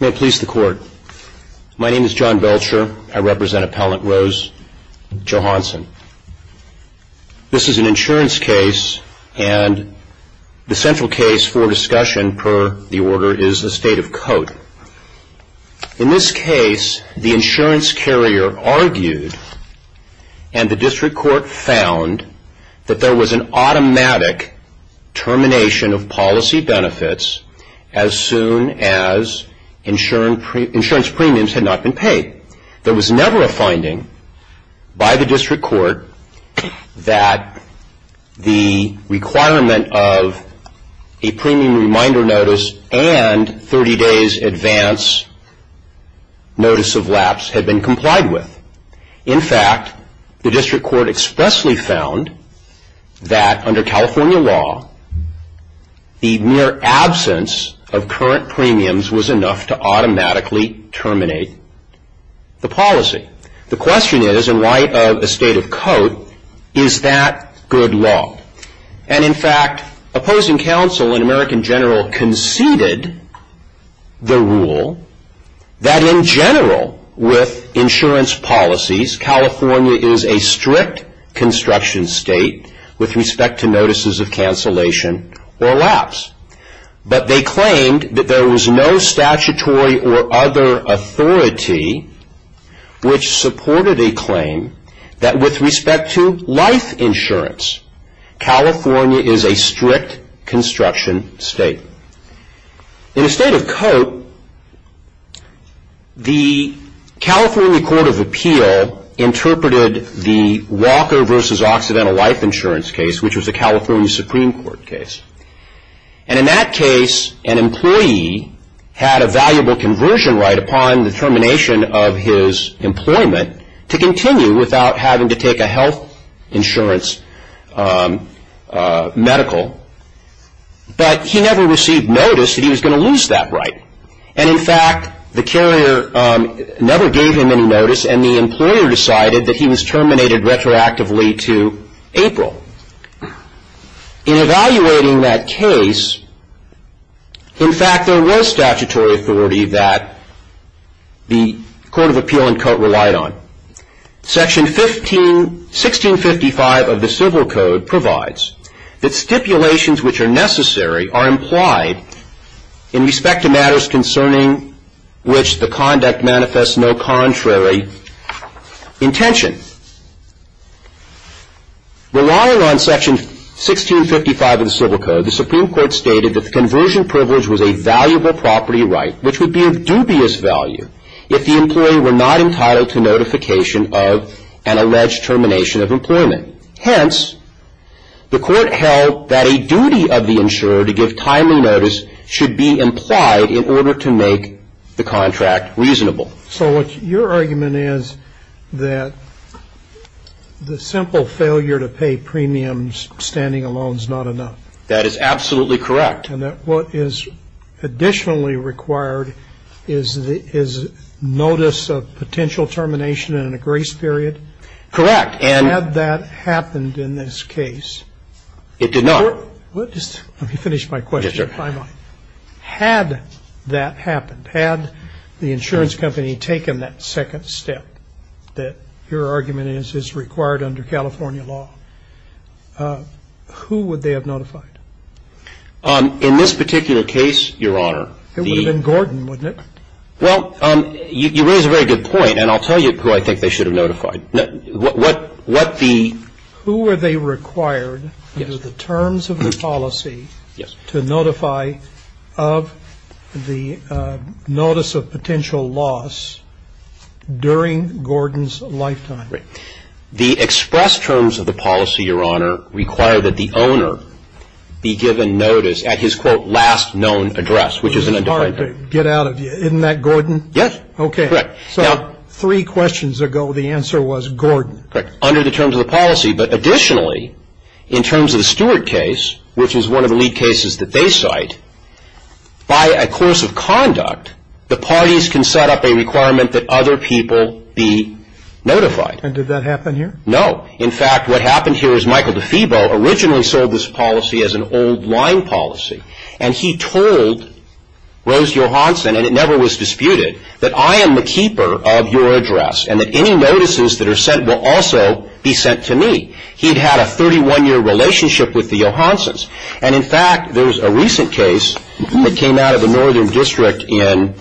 May it please the Court. My name is John Belcher. I represent Appellant Rose Johansen. This is an insurance case and the central case for discussion per the order is the State of Code. In this case, the insurance carrier argued and the District Court found that there as insurance premiums had not been paid. There was never a finding by the District Court that the requirement of a premium reminder notice and 30 days advance notice of lapse had been complied with. In fact, the District Court expressly found that under California law, the mere absence of current premiums was enough to automatically terminate the policy. The question is in light of the State of Code, is that good law? And in fact, opposing counsel and American General conceded the rule that in general with insurance policies, California is a strict construction state with respect to notices of cancellation or lapse. But they claimed that there was no statutory or other authority which supported a claim that with respect to life insurance, California is a strict construction state. In the State of Code, the California Court of Appeal interpreted the Walker v. Occidental Life Insurance case which was a California Supreme Court case. And in that case, an employee had a valuable conversion right upon the termination of his employment to continue without having to take a health insurance medical, but he never received notice that he was going to lose that right. And in fact, the carrier never gave him any notice and the employer decided that he was terminated retroactively to April. In evaluating that case, in fact, there was statutory authority that the Court of Appeal in court relied on. Section 15 of the Civil Code provides that stipulations which are necessary are implied in respect to matters concerning which the conduct manifests no contrary intention. Relying on Section 1655 of the Civil Code, the Supreme Court stated that the conversion privilege was a valuable property right which would be of dubious value if the employee were not entitled to notification of an alleged termination of employment. Hence, the court held that a duty of the insurer to give timely notice should be implied in order to make the contract reasonable. So what your argument is that the simple failure to pay premiums standing alone is not enough? That is absolutely correct. And that what is additionally required is notice of potential termination in a grace period? Correct. Had that happened in this case? It did not. Let me finish my question. Had that happened, had the insurance company taken that second step that your argument is is required under California law, who would they have notified? In this particular case, Your Honor, the It would have been Gordon, wouldn't it? Well, you raise a very good point, and I'll tell you who I think they should have notified. What the Who were they required under the terms of the policy to notify of the notice of potential loss during Gordon's lifetime? The express terms of the policy, Your Honor, require that the owner be given notice at his, quote, last known address, which is an undefined period. Isn't that Gordon? Yes. Okay. Correct. So three questions ago, the answer was Gordon. Correct. Under the terms of the policy. But additionally, in terms of the Stewart case, which is one of the lead cases that they cite, by a course of conduct, the parties can set up a requirement that other people be notified. And did that happen here? No. In fact, what happened here is Michael DeFeebo originally sold this policy as an old line policy. And he told Rose Johansson, and it never was disputed, that I am the keeper of your address and that any notices that are sent will also be sent to me. He'd had a 31-year relationship with the Johanssons. And in fact, there's a recent case that came out of the Northern District in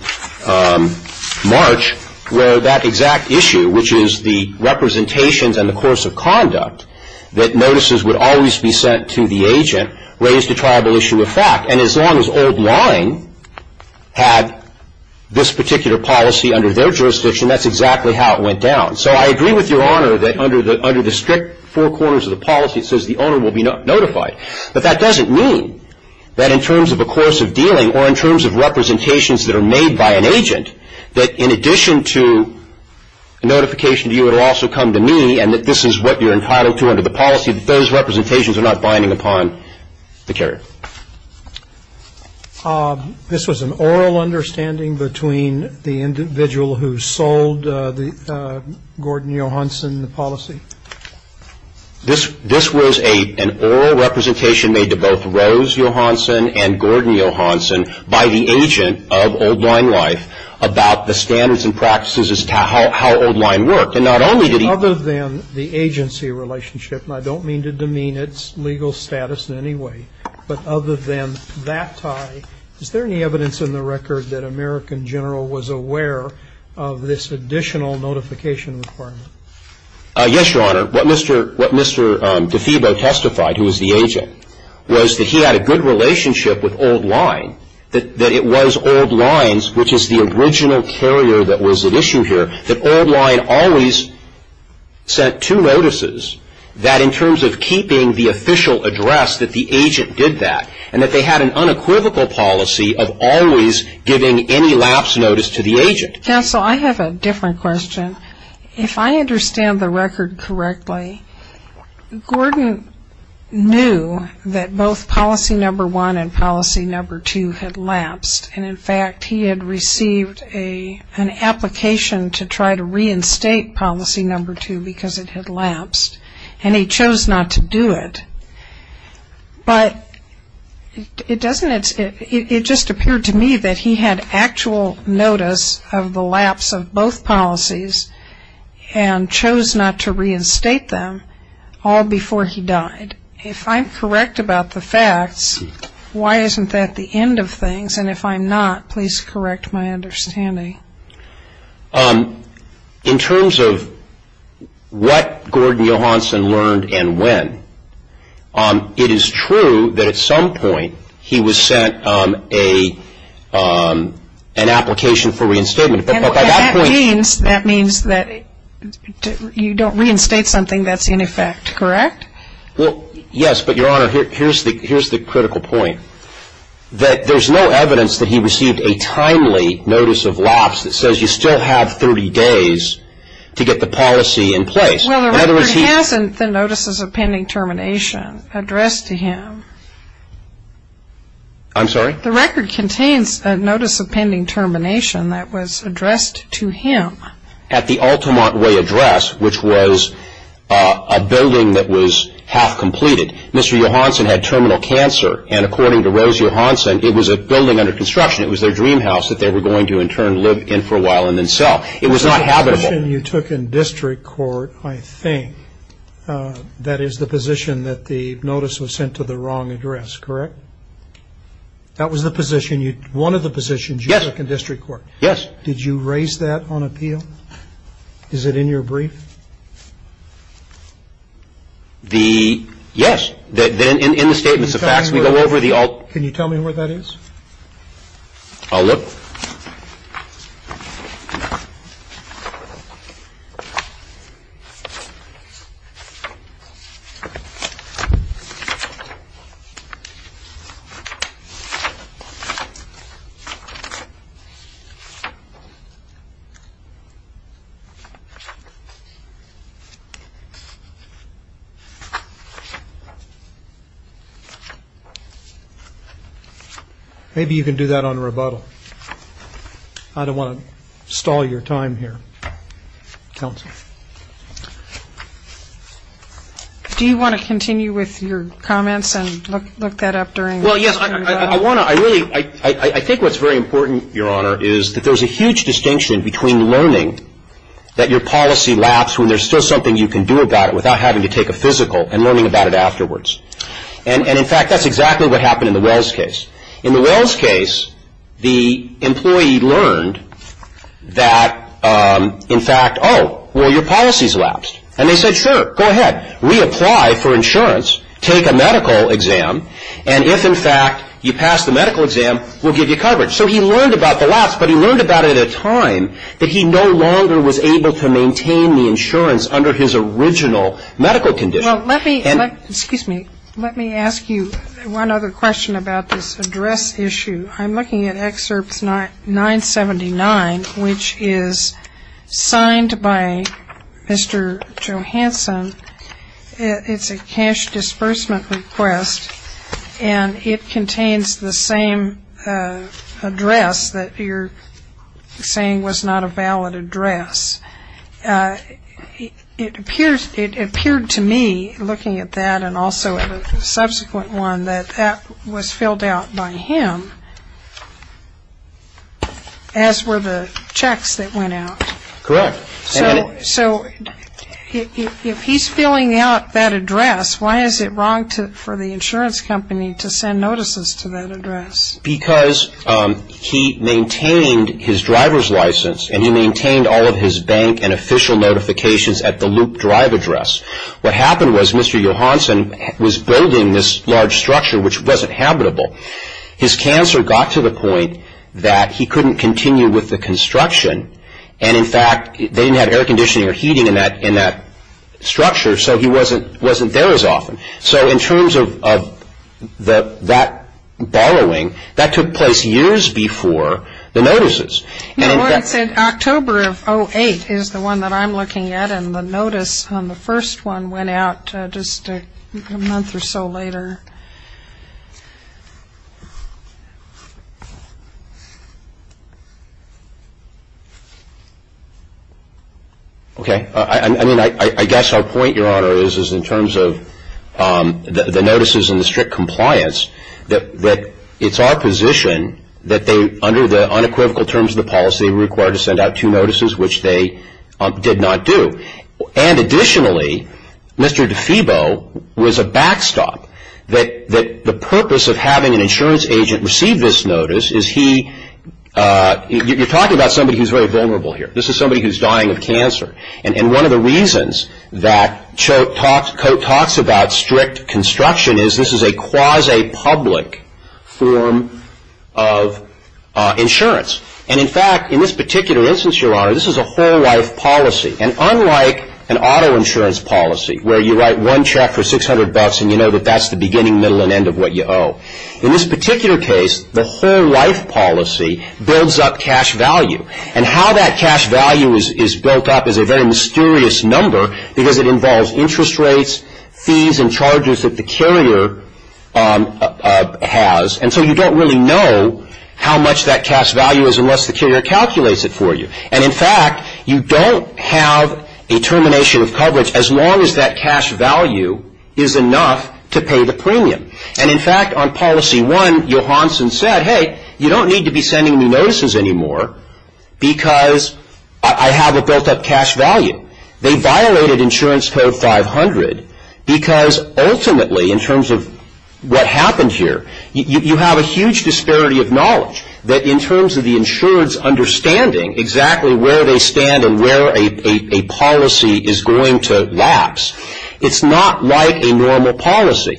March where that exact issue, which is the representations and the course of conduct, that notices would always be sent to the agent, raised a triable issue of fact. And as long as old line had this particular policy under their jurisdiction, that's exactly how it went down. So I agree with Your Honor that under the strict four corners of the policy, it says the owner will be notified. But that doesn't mean that in terms of a course of dealing or in terms of representations that are made by an agent, that in addition to a notification to you, it will also come to me and that this is what you're entitled to under the policy, that those representations are not binding upon the carrier. This was an oral understanding between the individual who sold Gordon Johansson in the policy? This was an oral representation made to both Rose Johansson and Gordon Johansson by the agent of Old Line Life about the standards and practices as to how old line worked. Other than the agency relationship, and I don't mean to demean its legal status in any way, but other than that tie, is there any evidence in the record that American General was aware of this additional notification requirement? Yes, Your Honor. What Mr. DeFebo testified, who was the agent, was that he had a good relationship with Old Line, that it was Old Line's, which is the original carrier that was at issue here, that Old Line always sent two notices that in terms of keeping the official address that the agent did that, and that they had an unequivocal policy of always giving any lapse notice to the agent. Counsel, I have a different question. If I understand the record correctly, Gordon knew that both policy number one and policy number two had lapsed, and in fact he had received an application to try to reinstate policy number two because it had lapsed, and he chose not to do it. But it doesn't, it just appeared to me that he had actual notice of the lapse of both policies and chose not to reinstate them all before he died. If I'm correct about the facts, why isn't that the end of things? And if I'm not, please correct my understanding. In terms of what Gordon Johansson learned and when, it is true that at some point he was sent an application for reinstatement. That means that you don't reinstate something that's in effect, correct? Well, yes, but Your Honor, here's the critical point. That there's no evidence that he received a timely notice of lapse that says you still have 30 days to get the policy in place. Well, the record has the notices of pending termination addressed to him. I'm sorry? The record contains a notice of pending termination that was addressed to him. At the Altamont Way address, which was a building that was half-completed. Mr. Johansson had terminal cancer and according to Rose Johansson, it was a building under construction. It was their dream house that they were going to in turn live in for a while and then sell. It was not habitable. The position you took in district court, I think, that is the position that the notice was sent to the wrong address, correct? That was the position, one of the positions you took in district court. Yes. Did you raise that on appeal? Is it in your brief? Yes, in the statements of facts. Can you tell me where that is? I'll look. Maybe you can do that on rebuttal. I don't want to stall your time here. Counsel. Do you want to continue with your comments and look that up during? Well, yes. I want to. I really. I think what's very important, Your Honor, is that there's a huge distinction between learning that your policy lapsed when there's still something you can do about it without having to take a physical and learning about it afterwards. And, in fact, that's exactly what happened in the Wells case. In the Wells case, the employee learned that, in fact, oh, well, your policy's lapsed. And they said, sure, go ahead. Reapply for insurance. Take a medical exam. And if, in fact, you pass the medical exam, we'll give you coverage. So he learned about the lapse, but he learned about it at a time that he no longer was able to maintain the insurance under his original medical condition. Well, let me ask you one other question about this address issue. I'm looking at Excerpt 979, which is signed by Mr. Johanson. It's a cash disbursement request. And it contains the same address that you're saying was not a valid address. It appeared to me, looking at that and also at a subsequent one, that that was filled out by him, as were the checks that went out. Correct. So if he's filling out that address, why is it wrong for the insurance company to send notices to that address? Because he maintained his driver's license and he maintained all of his bank and official notifications at the loop drive address. What happened was Mr. Johanson was building this large structure, which wasn't habitable. His cancer got to the point that he couldn't continue with the construction. And, in fact, they didn't have air conditioning or heating in that structure, so he wasn't there as often. So in terms of that borrowing, that took place years before the notices. Yeah, well, it said October of 2008 is the one that I'm looking at, and the notice on the first one went out just a month or so later. Okay. I mean, I guess our point, Your Honor, is in terms of the notices and the strict compliance that it's our position that they, under the unequivocal terms of the policy, were required to send out two notices, which they did not do. And, additionally, Mr. DeFebo was a backstop. The purpose of having an insurance agent receive this notice is he – you're talking about somebody who's very vulnerable here. This is somebody who's dying of cancer. And one of the reasons that Coates talks about strict construction is this is a quasi-public form of insurance. And, in fact, in this particular instance, Your Honor, this is a whole life policy. And unlike an auto insurance policy, where you write one check for 600 bucks and you know that that's the beginning, middle, and end of what you owe, in this particular case, the whole life policy builds up cash value. And how that cash value is built up is a very mysterious number because it involves interest rates, fees, and charges that the carrier has. And so you don't really know how much that cash value is unless the carrier calculates it for you. And, in fact, you don't have a termination of coverage as long as that cash value is enough to pay the premium. And, in fact, on policy one, Johansson said, hey, you don't need to be sending me notices anymore because I have a built-up cash value. They violated insurance code 500 because ultimately, in terms of what happened here, you have a huge disparity of knowledge that in terms of the insurance understanding exactly where they stand and where a policy is going to lapse, it's not like a normal policy.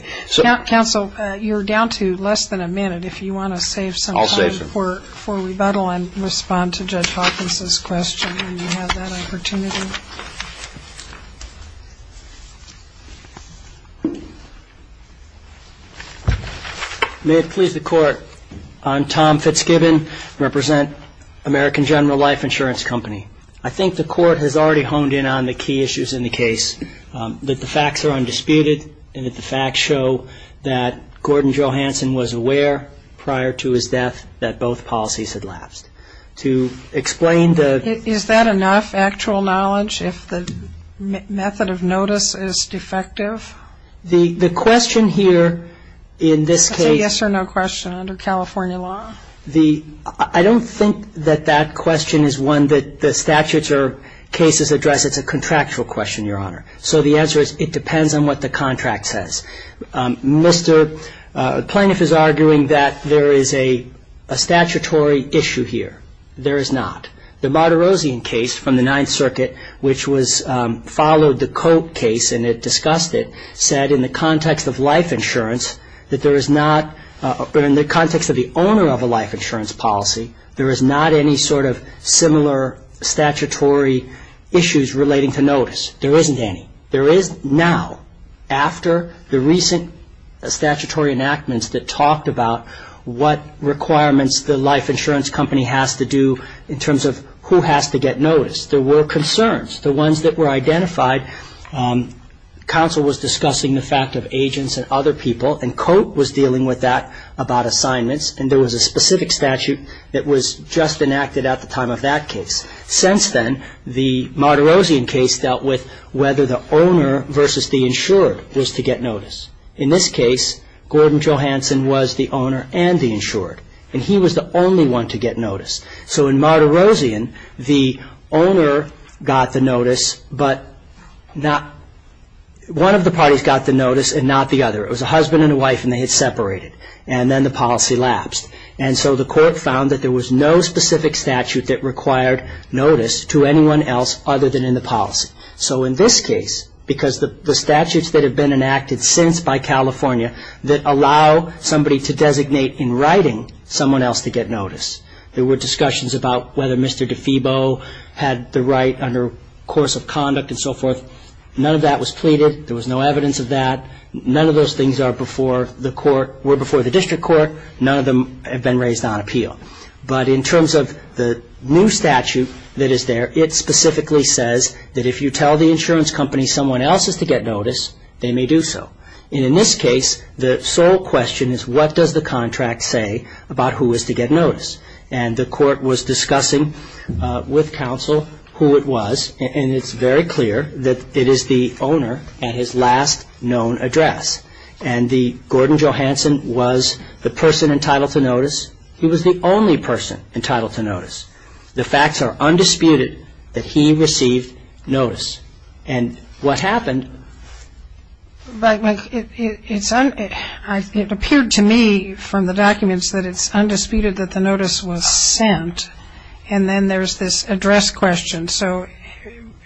Counsel, you're down to less than a minute if you want to save some time for rebuttal and respond to Judge Hawkins' question when you have that opportunity. May it please the court, I'm Tom Fitzgibbon, I represent American General Life Insurance Company. I think the court has already honed in on the key issues in the case, that the facts are undisputed and that the facts show that Gordon Johansson was aware prior to his death that both policies had lapsed. To explain the... Is that enough actual knowledge if the method of notice is defective? The question here in this case... It's a yes or no question under California law? I don't think that that question is one that the statutes or cases address. It's a contractual question, Your Honor. So the answer is it depends on what the contract says. Mr. Plaintiff is arguing that there is a statutory issue here. There is not. The Martirosian case from the Ninth Circuit, which followed the Koch case and discussed it, said in the context of life insurance that there is not... In the context of the owner of a life insurance policy, there is not any sort of similar statutory issues relating to notice. There isn't any. There is now, after the recent statutory enactments that talked about what requirements the life insurance company has to do in terms of who has to get notice. There were concerns, the ones that were identified. Counsel was discussing the fact of agents and other people and Koch was dealing with that about assignments and there was a specific statute that was just enacted at the time of that case. Since then, the Martirosian case dealt with whether the owner versus the insured was to get notice. In this case, Gordon Johanson was the owner and the insured and he was the only one to get notice. So in Martirosian, the owner got the notice but one of the parties got the notice and not the other. It was a husband and a wife and they had separated and then the policy lapsed. And so the court found that there was no specific statute that required notice to anyone else other than in the policy. So in this case, because the statutes that have been enacted since by California that allow somebody to designate in writing someone else to get notice. There were discussions about whether Mr. DeFebo had the right under course of conduct and so forth. None of that was pleaded. There was no evidence of that. None of those things were before the district court. None of them have been raised on appeal. But in terms of the new statute that is there, it specifically says that if you tell the insurance company someone else is to get notice, they may do so. And in this case, the sole question is what does the contract say about who is to get notice? And the court was discussing with counsel who it was and it's very clear that it is the owner at his last known address. And Gordon Johanson was the person entitled to notice. He was the only person entitled to notice. The facts are undisputed that he received notice. And what happened... But it appeared to me from the documents that it's undisputed that the notice was sent and then there's this address question. So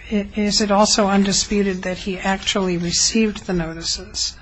is it also undisputed that he actually received the notices?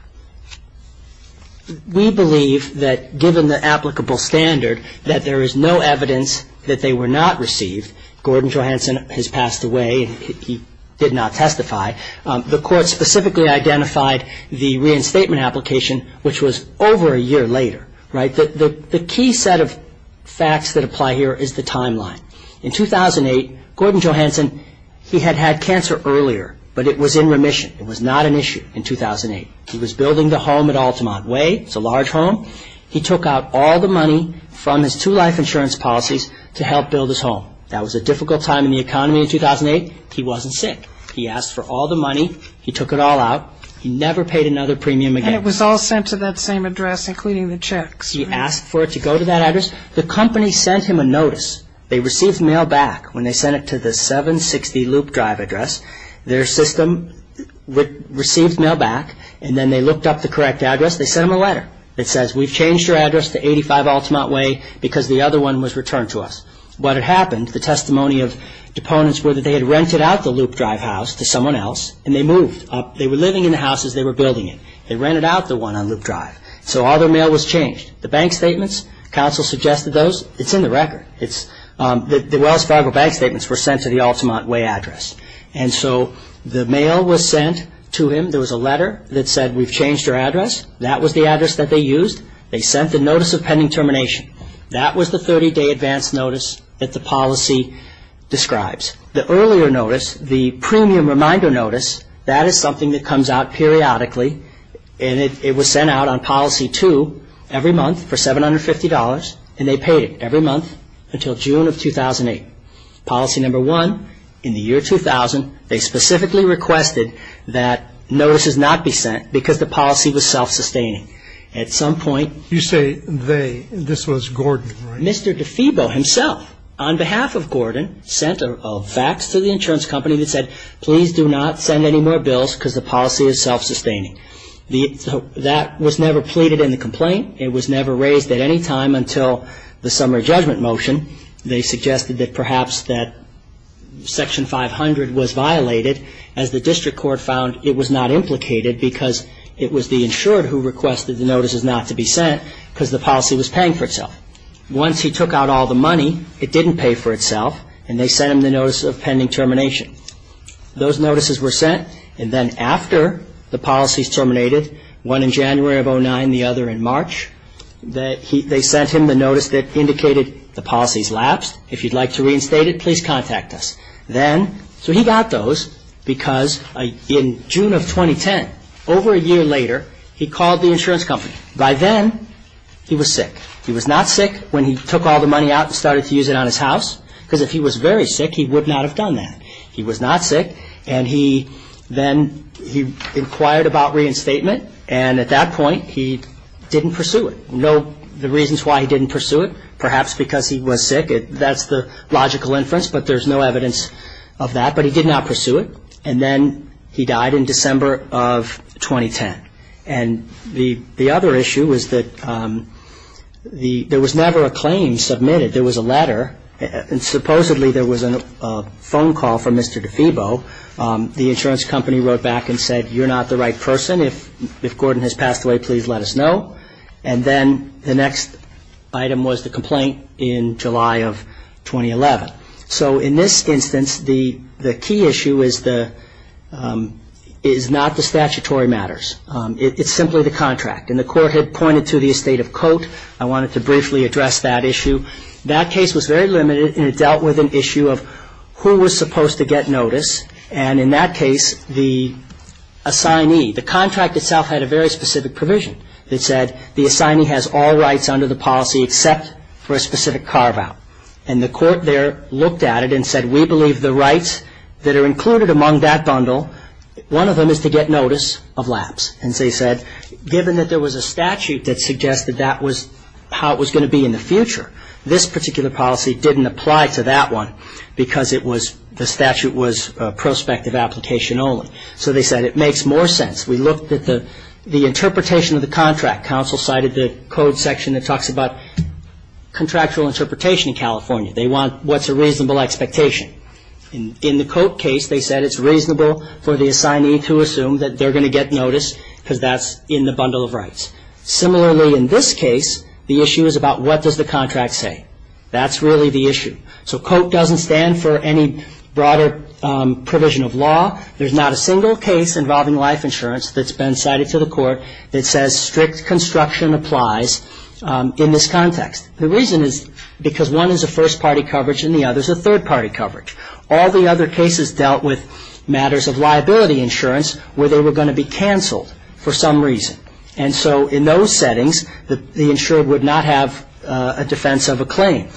We believe that given the applicable standard that there is no evidence that they were not received. Gordon Johanson has passed away. He did not testify. The court specifically identified the reinstatement application which was over a year later. The key set of facts that apply here is the timeline. In 2008, Gordon Johanson, he had had cancer earlier but it was in remission. It was not an issue in 2008. He was building the home at Altamont Way. It's a large home. He took out all the money from his two life insurance policies to help build his home. That was a difficult time in the economy in 2008. He wasn't sick. He asked for all the money. He took it all out. He never paid another premium again. And it was all sent to that same address including the checks. He asked for it to go to that address. The company sent him a notice. They received mail back when they sent it to the 760 Loop Drive address. Their system received mail back. And then they looked up the correct address. They sent him a letter. It says, we've changed your address to 85 Altamont Way because the other one was returned to us. What had happened, the testimony of deponents were that they had rented out the Loop Drive house to someone else and they moved. They were living in the house as they were building it. They rented out the one on Loop Drive. So all their mail was changed. The bank statements, counsel suggested those. It's in the record. The Wells Fargo bank statements were sent to the Altamont Way address. And so the mail was sent to him. There was a letter that said, we've changed your address. That was the address that they used. They sent the notice of pending termination. That was the 30-day advance notice that the policy describes. The earlier notice, the premium reminder notice, that is something that comes out periodically. And it was sent out on Policy 2 every month for $750. And they paid it every month until June of 2008. Policy No. 1, in the year 2000, they specifically requested that notices not be sent because the policy was self-sustaining. At some point... You say they. This was Gordon, right? Mr. DeFeebo himself, on behalf of Gordon, sent a fax to the insurance company that said, please do not send any more bills because the policy is self-sustaining. That was never pleaded in the complaint. It was never raised at any time until the summer judgment motion. They suggested that perhaps that Section 500 was violated as the district court found it was not implicated because it was the insured who requested the notices not to be sent because the policy was paying for itself. Once he took out all the money, it didn't pay for itself, and they sent him the notice of pending termination. Those notices were sent, and then after the policies terminated, one in January of 2009, the other in March, they sent him the notice that indicated the policies lapsed. If you'd like to reinstate it, please contact us. So he got those because in June of 2010, over a year later, he called the insurance company. By then, he was sick. He was not sick when he took all the money out and started to use it on his house because if he was very sick, he would not have done that. He was not sick, and then he inquired about reinstatement, and at that point, he didn't pursue it. The reasons why he didn't pursue it, perhaps because he was sick, that's the logical inference, but there's no evidence of that. But he did not pursue it, and then he died in December of 2010. And the other issue was that there was never a claim submitted. There was a letter, and supposedly there was a phone call from Mr. DeFebo. The insurance company wrote back and said, you're not the right person. If Gordon has passed away, please let us know. And then the next item was the complaint in July of 2011. So in this instance, the key issue is not the statutory matters. It's simply the contract. And the court had pointed to the estate of cote. I wanted to briefly address that issue. That case was very limited, and it dealt with an issue of who was supposed to get notice. And in that case, the assignee, the contract itself, had a very specific provision that said the assignee has all rights under the policy except for a specific carve-out. And the court there looked at it and said, we believe the rights that are included among that bundle, one of them is to get notice of lapse. And they said, given that there was a statute that suggested that was how it was going to be in the future, this particular policy didn't apply to that one because the statute was prospective application only. So they said it makes more sense. We looked at the interpretation of the contract. Counsel cited the code section that talks about contractual interpretation in California. They want what's a reasonable expectation. In the cote case, they said it's reasonable for the assignee to assume that they're going to get notice because that's in the bundle of rights. Similarly, in this case, the issue is about what does the contract say. That's really the issue. So cote doesn't stand for any broader provision of law. There's not a single case involving life insurance that's been cited to the court that says strict construction applies in this context. The reason is because one is a first-party coverage and the other is a third-party coverage. All the other cases dealt with matters of liability insurance where they were going to be canceled for some reason. And so in those settings, the insured would not have a defense of a claim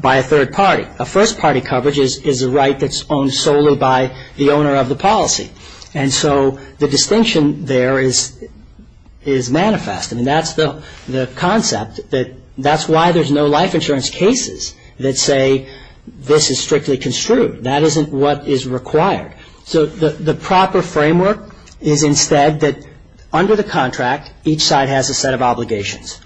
by a third party. A first-party coverage is a right that's owned solely by the owner of the policy. And so the distinction there is manifest. I mean, that's the concept that that's why there's no life insurance cases that say this is strictly construed. That isn't what is required. So the proper framework is instead that under the contract, each side has a set of obligations.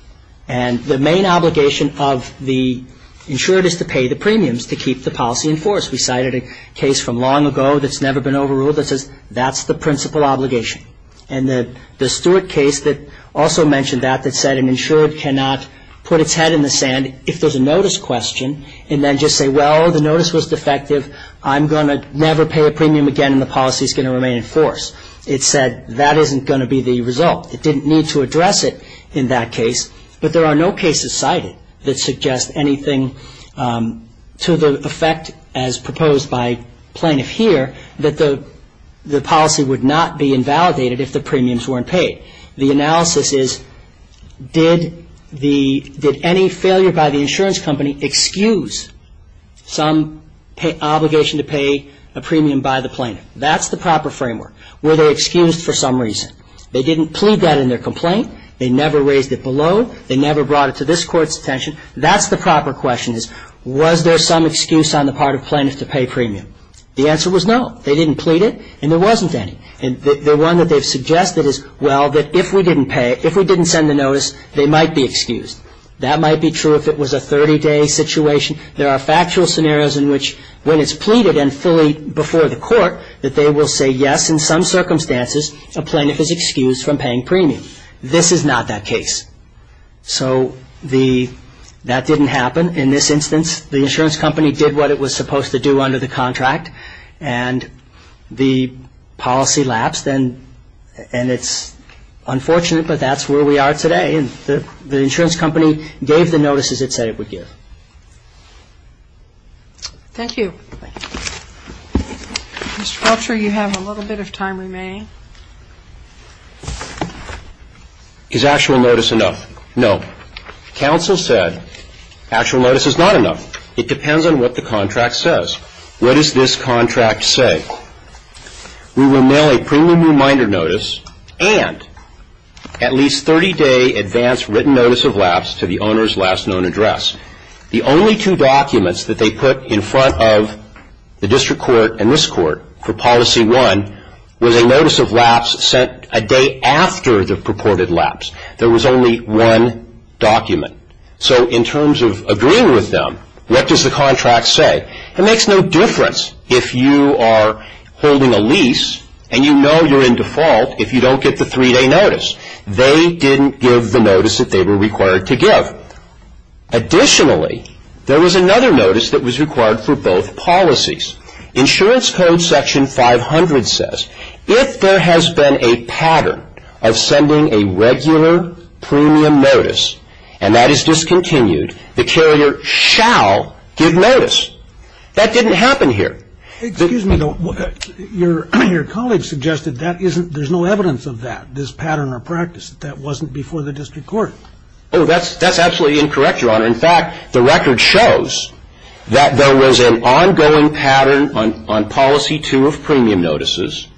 And the main obligation of the insured is to pay the premiums to keep the policy in force. We cited a case from long ago that's never been overruled that says that's the principal obligation. And the Stewart case that also mentioned that that said an insured cannot put its head in the sand if there's a notice question and then just say, well, the notice was defective. I'm going to never pay a premium again and the policy is going to remain in force. It said that isn't going to be the result. It didn't need to address it in that case but there are no cases cited that suggest anything to the effect as proposed by plaintiff here that the policy would not be invalidated if the premiums weren't paid. The analysis is did any failure by the insurance company excuse some obligation to pay a premium by the plaintiff? That's the proper framework. Were they excused for some reason? They didn't plead that in their complaint. They never raised it below. They never brought it to this Court's attention. That's the proper question is was there some excuse on the part of plaintiff to pay premium? The answer was no. They didn't plead it and there wasn't any. The one that they've suggested is well, if we didn't pay, if we didn't send the notice they might be excused. That might be true if it was a 30-day situation. There are factual scenarios in which when it's pleaded and fully before the Court that they will say yes, in some circumstances a plaintiff is excused from paying premium. This is not that case. So that didn't happen in this instance. The insurance company did what it was supposed to do under the contract and the policy lapsed and it's unfortunate but that's where we are today. The insurance company gave the notices it said it would give. Thank you. Mr. Felcher, you have a little bit of time remaining. Is actual notice enough? No. Counsel said actual notice is not enough. It depends on what the contract says. What does this contract say? We will mail a premium reminder notice and at least 30-day advance written notice of lapse to the owner's last known address. The only two documents that they put in front of the District Court and this Court for policy one was a notice of lapse sent a day after the purported lapse. There was only one document. So in terms of agreeing with them what does the contract say? It makes no difference if you are holding a lease and you know you're in default if you don't get the three-day notice. They didn't give the notice that they were required to give. Additionally there was another notice that was required for both policies. Insurance Code section 500 says if there has been a pattern of sending a regular premium notice and that is discontinued the carrier shall give notice. That didn't happen here. Your colleague suggested there's no evidence of that pattern or practice. That wasn't before the record shows that there was an ongoing pattern on policy two of premium notices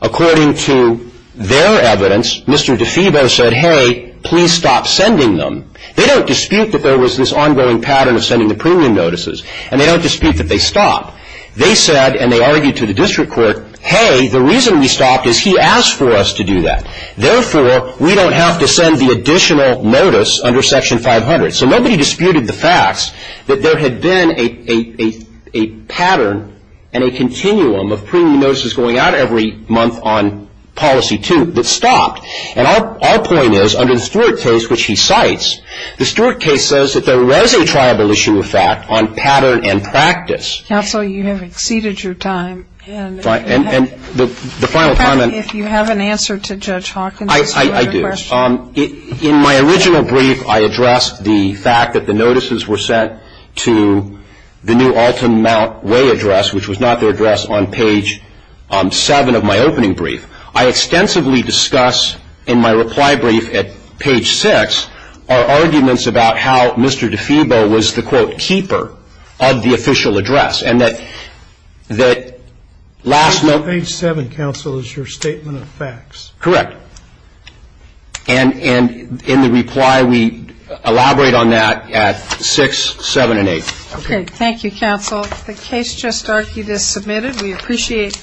according to their evidence, Mr. DeFebo said, hey, please stop sending them. They don't dispute that there was this ongoing pattern of sending the premium notices and they don't dispute that they stopped. They said and they argued to the District Court, hey, the reason we stopped is he asked for us to do that. Therefore, we don't have to send the insurance code section 500. So nobody disputed the facts that there had been a pattern and a continuum of premium notices going out every month on policy two that stopped. And our point is under the Stewart case which he cites, the Stewart case says that there was a triable issue of fact on pattern and practice. Counsel, you have exceeded your time. And the final comment If you have an answer to Judge Hawkins I do. In my original brief I addressed the fact that the notices were sent to the new Alton Mount Way address which was not the address on page seven of my opening brief. I extensively discuss in my reply brief at page six our arguments about how Mr. DeFebo was the keeper of the official address and that Page seven, Counsel is your statement of facts. Correct. And in the reply we elaborate on that at six, seven, and eight. Thank you, Counsel. The case just argued is submitted. We appreciate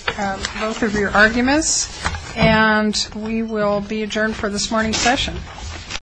both of your arguments and we will be adjourned for this morning's session.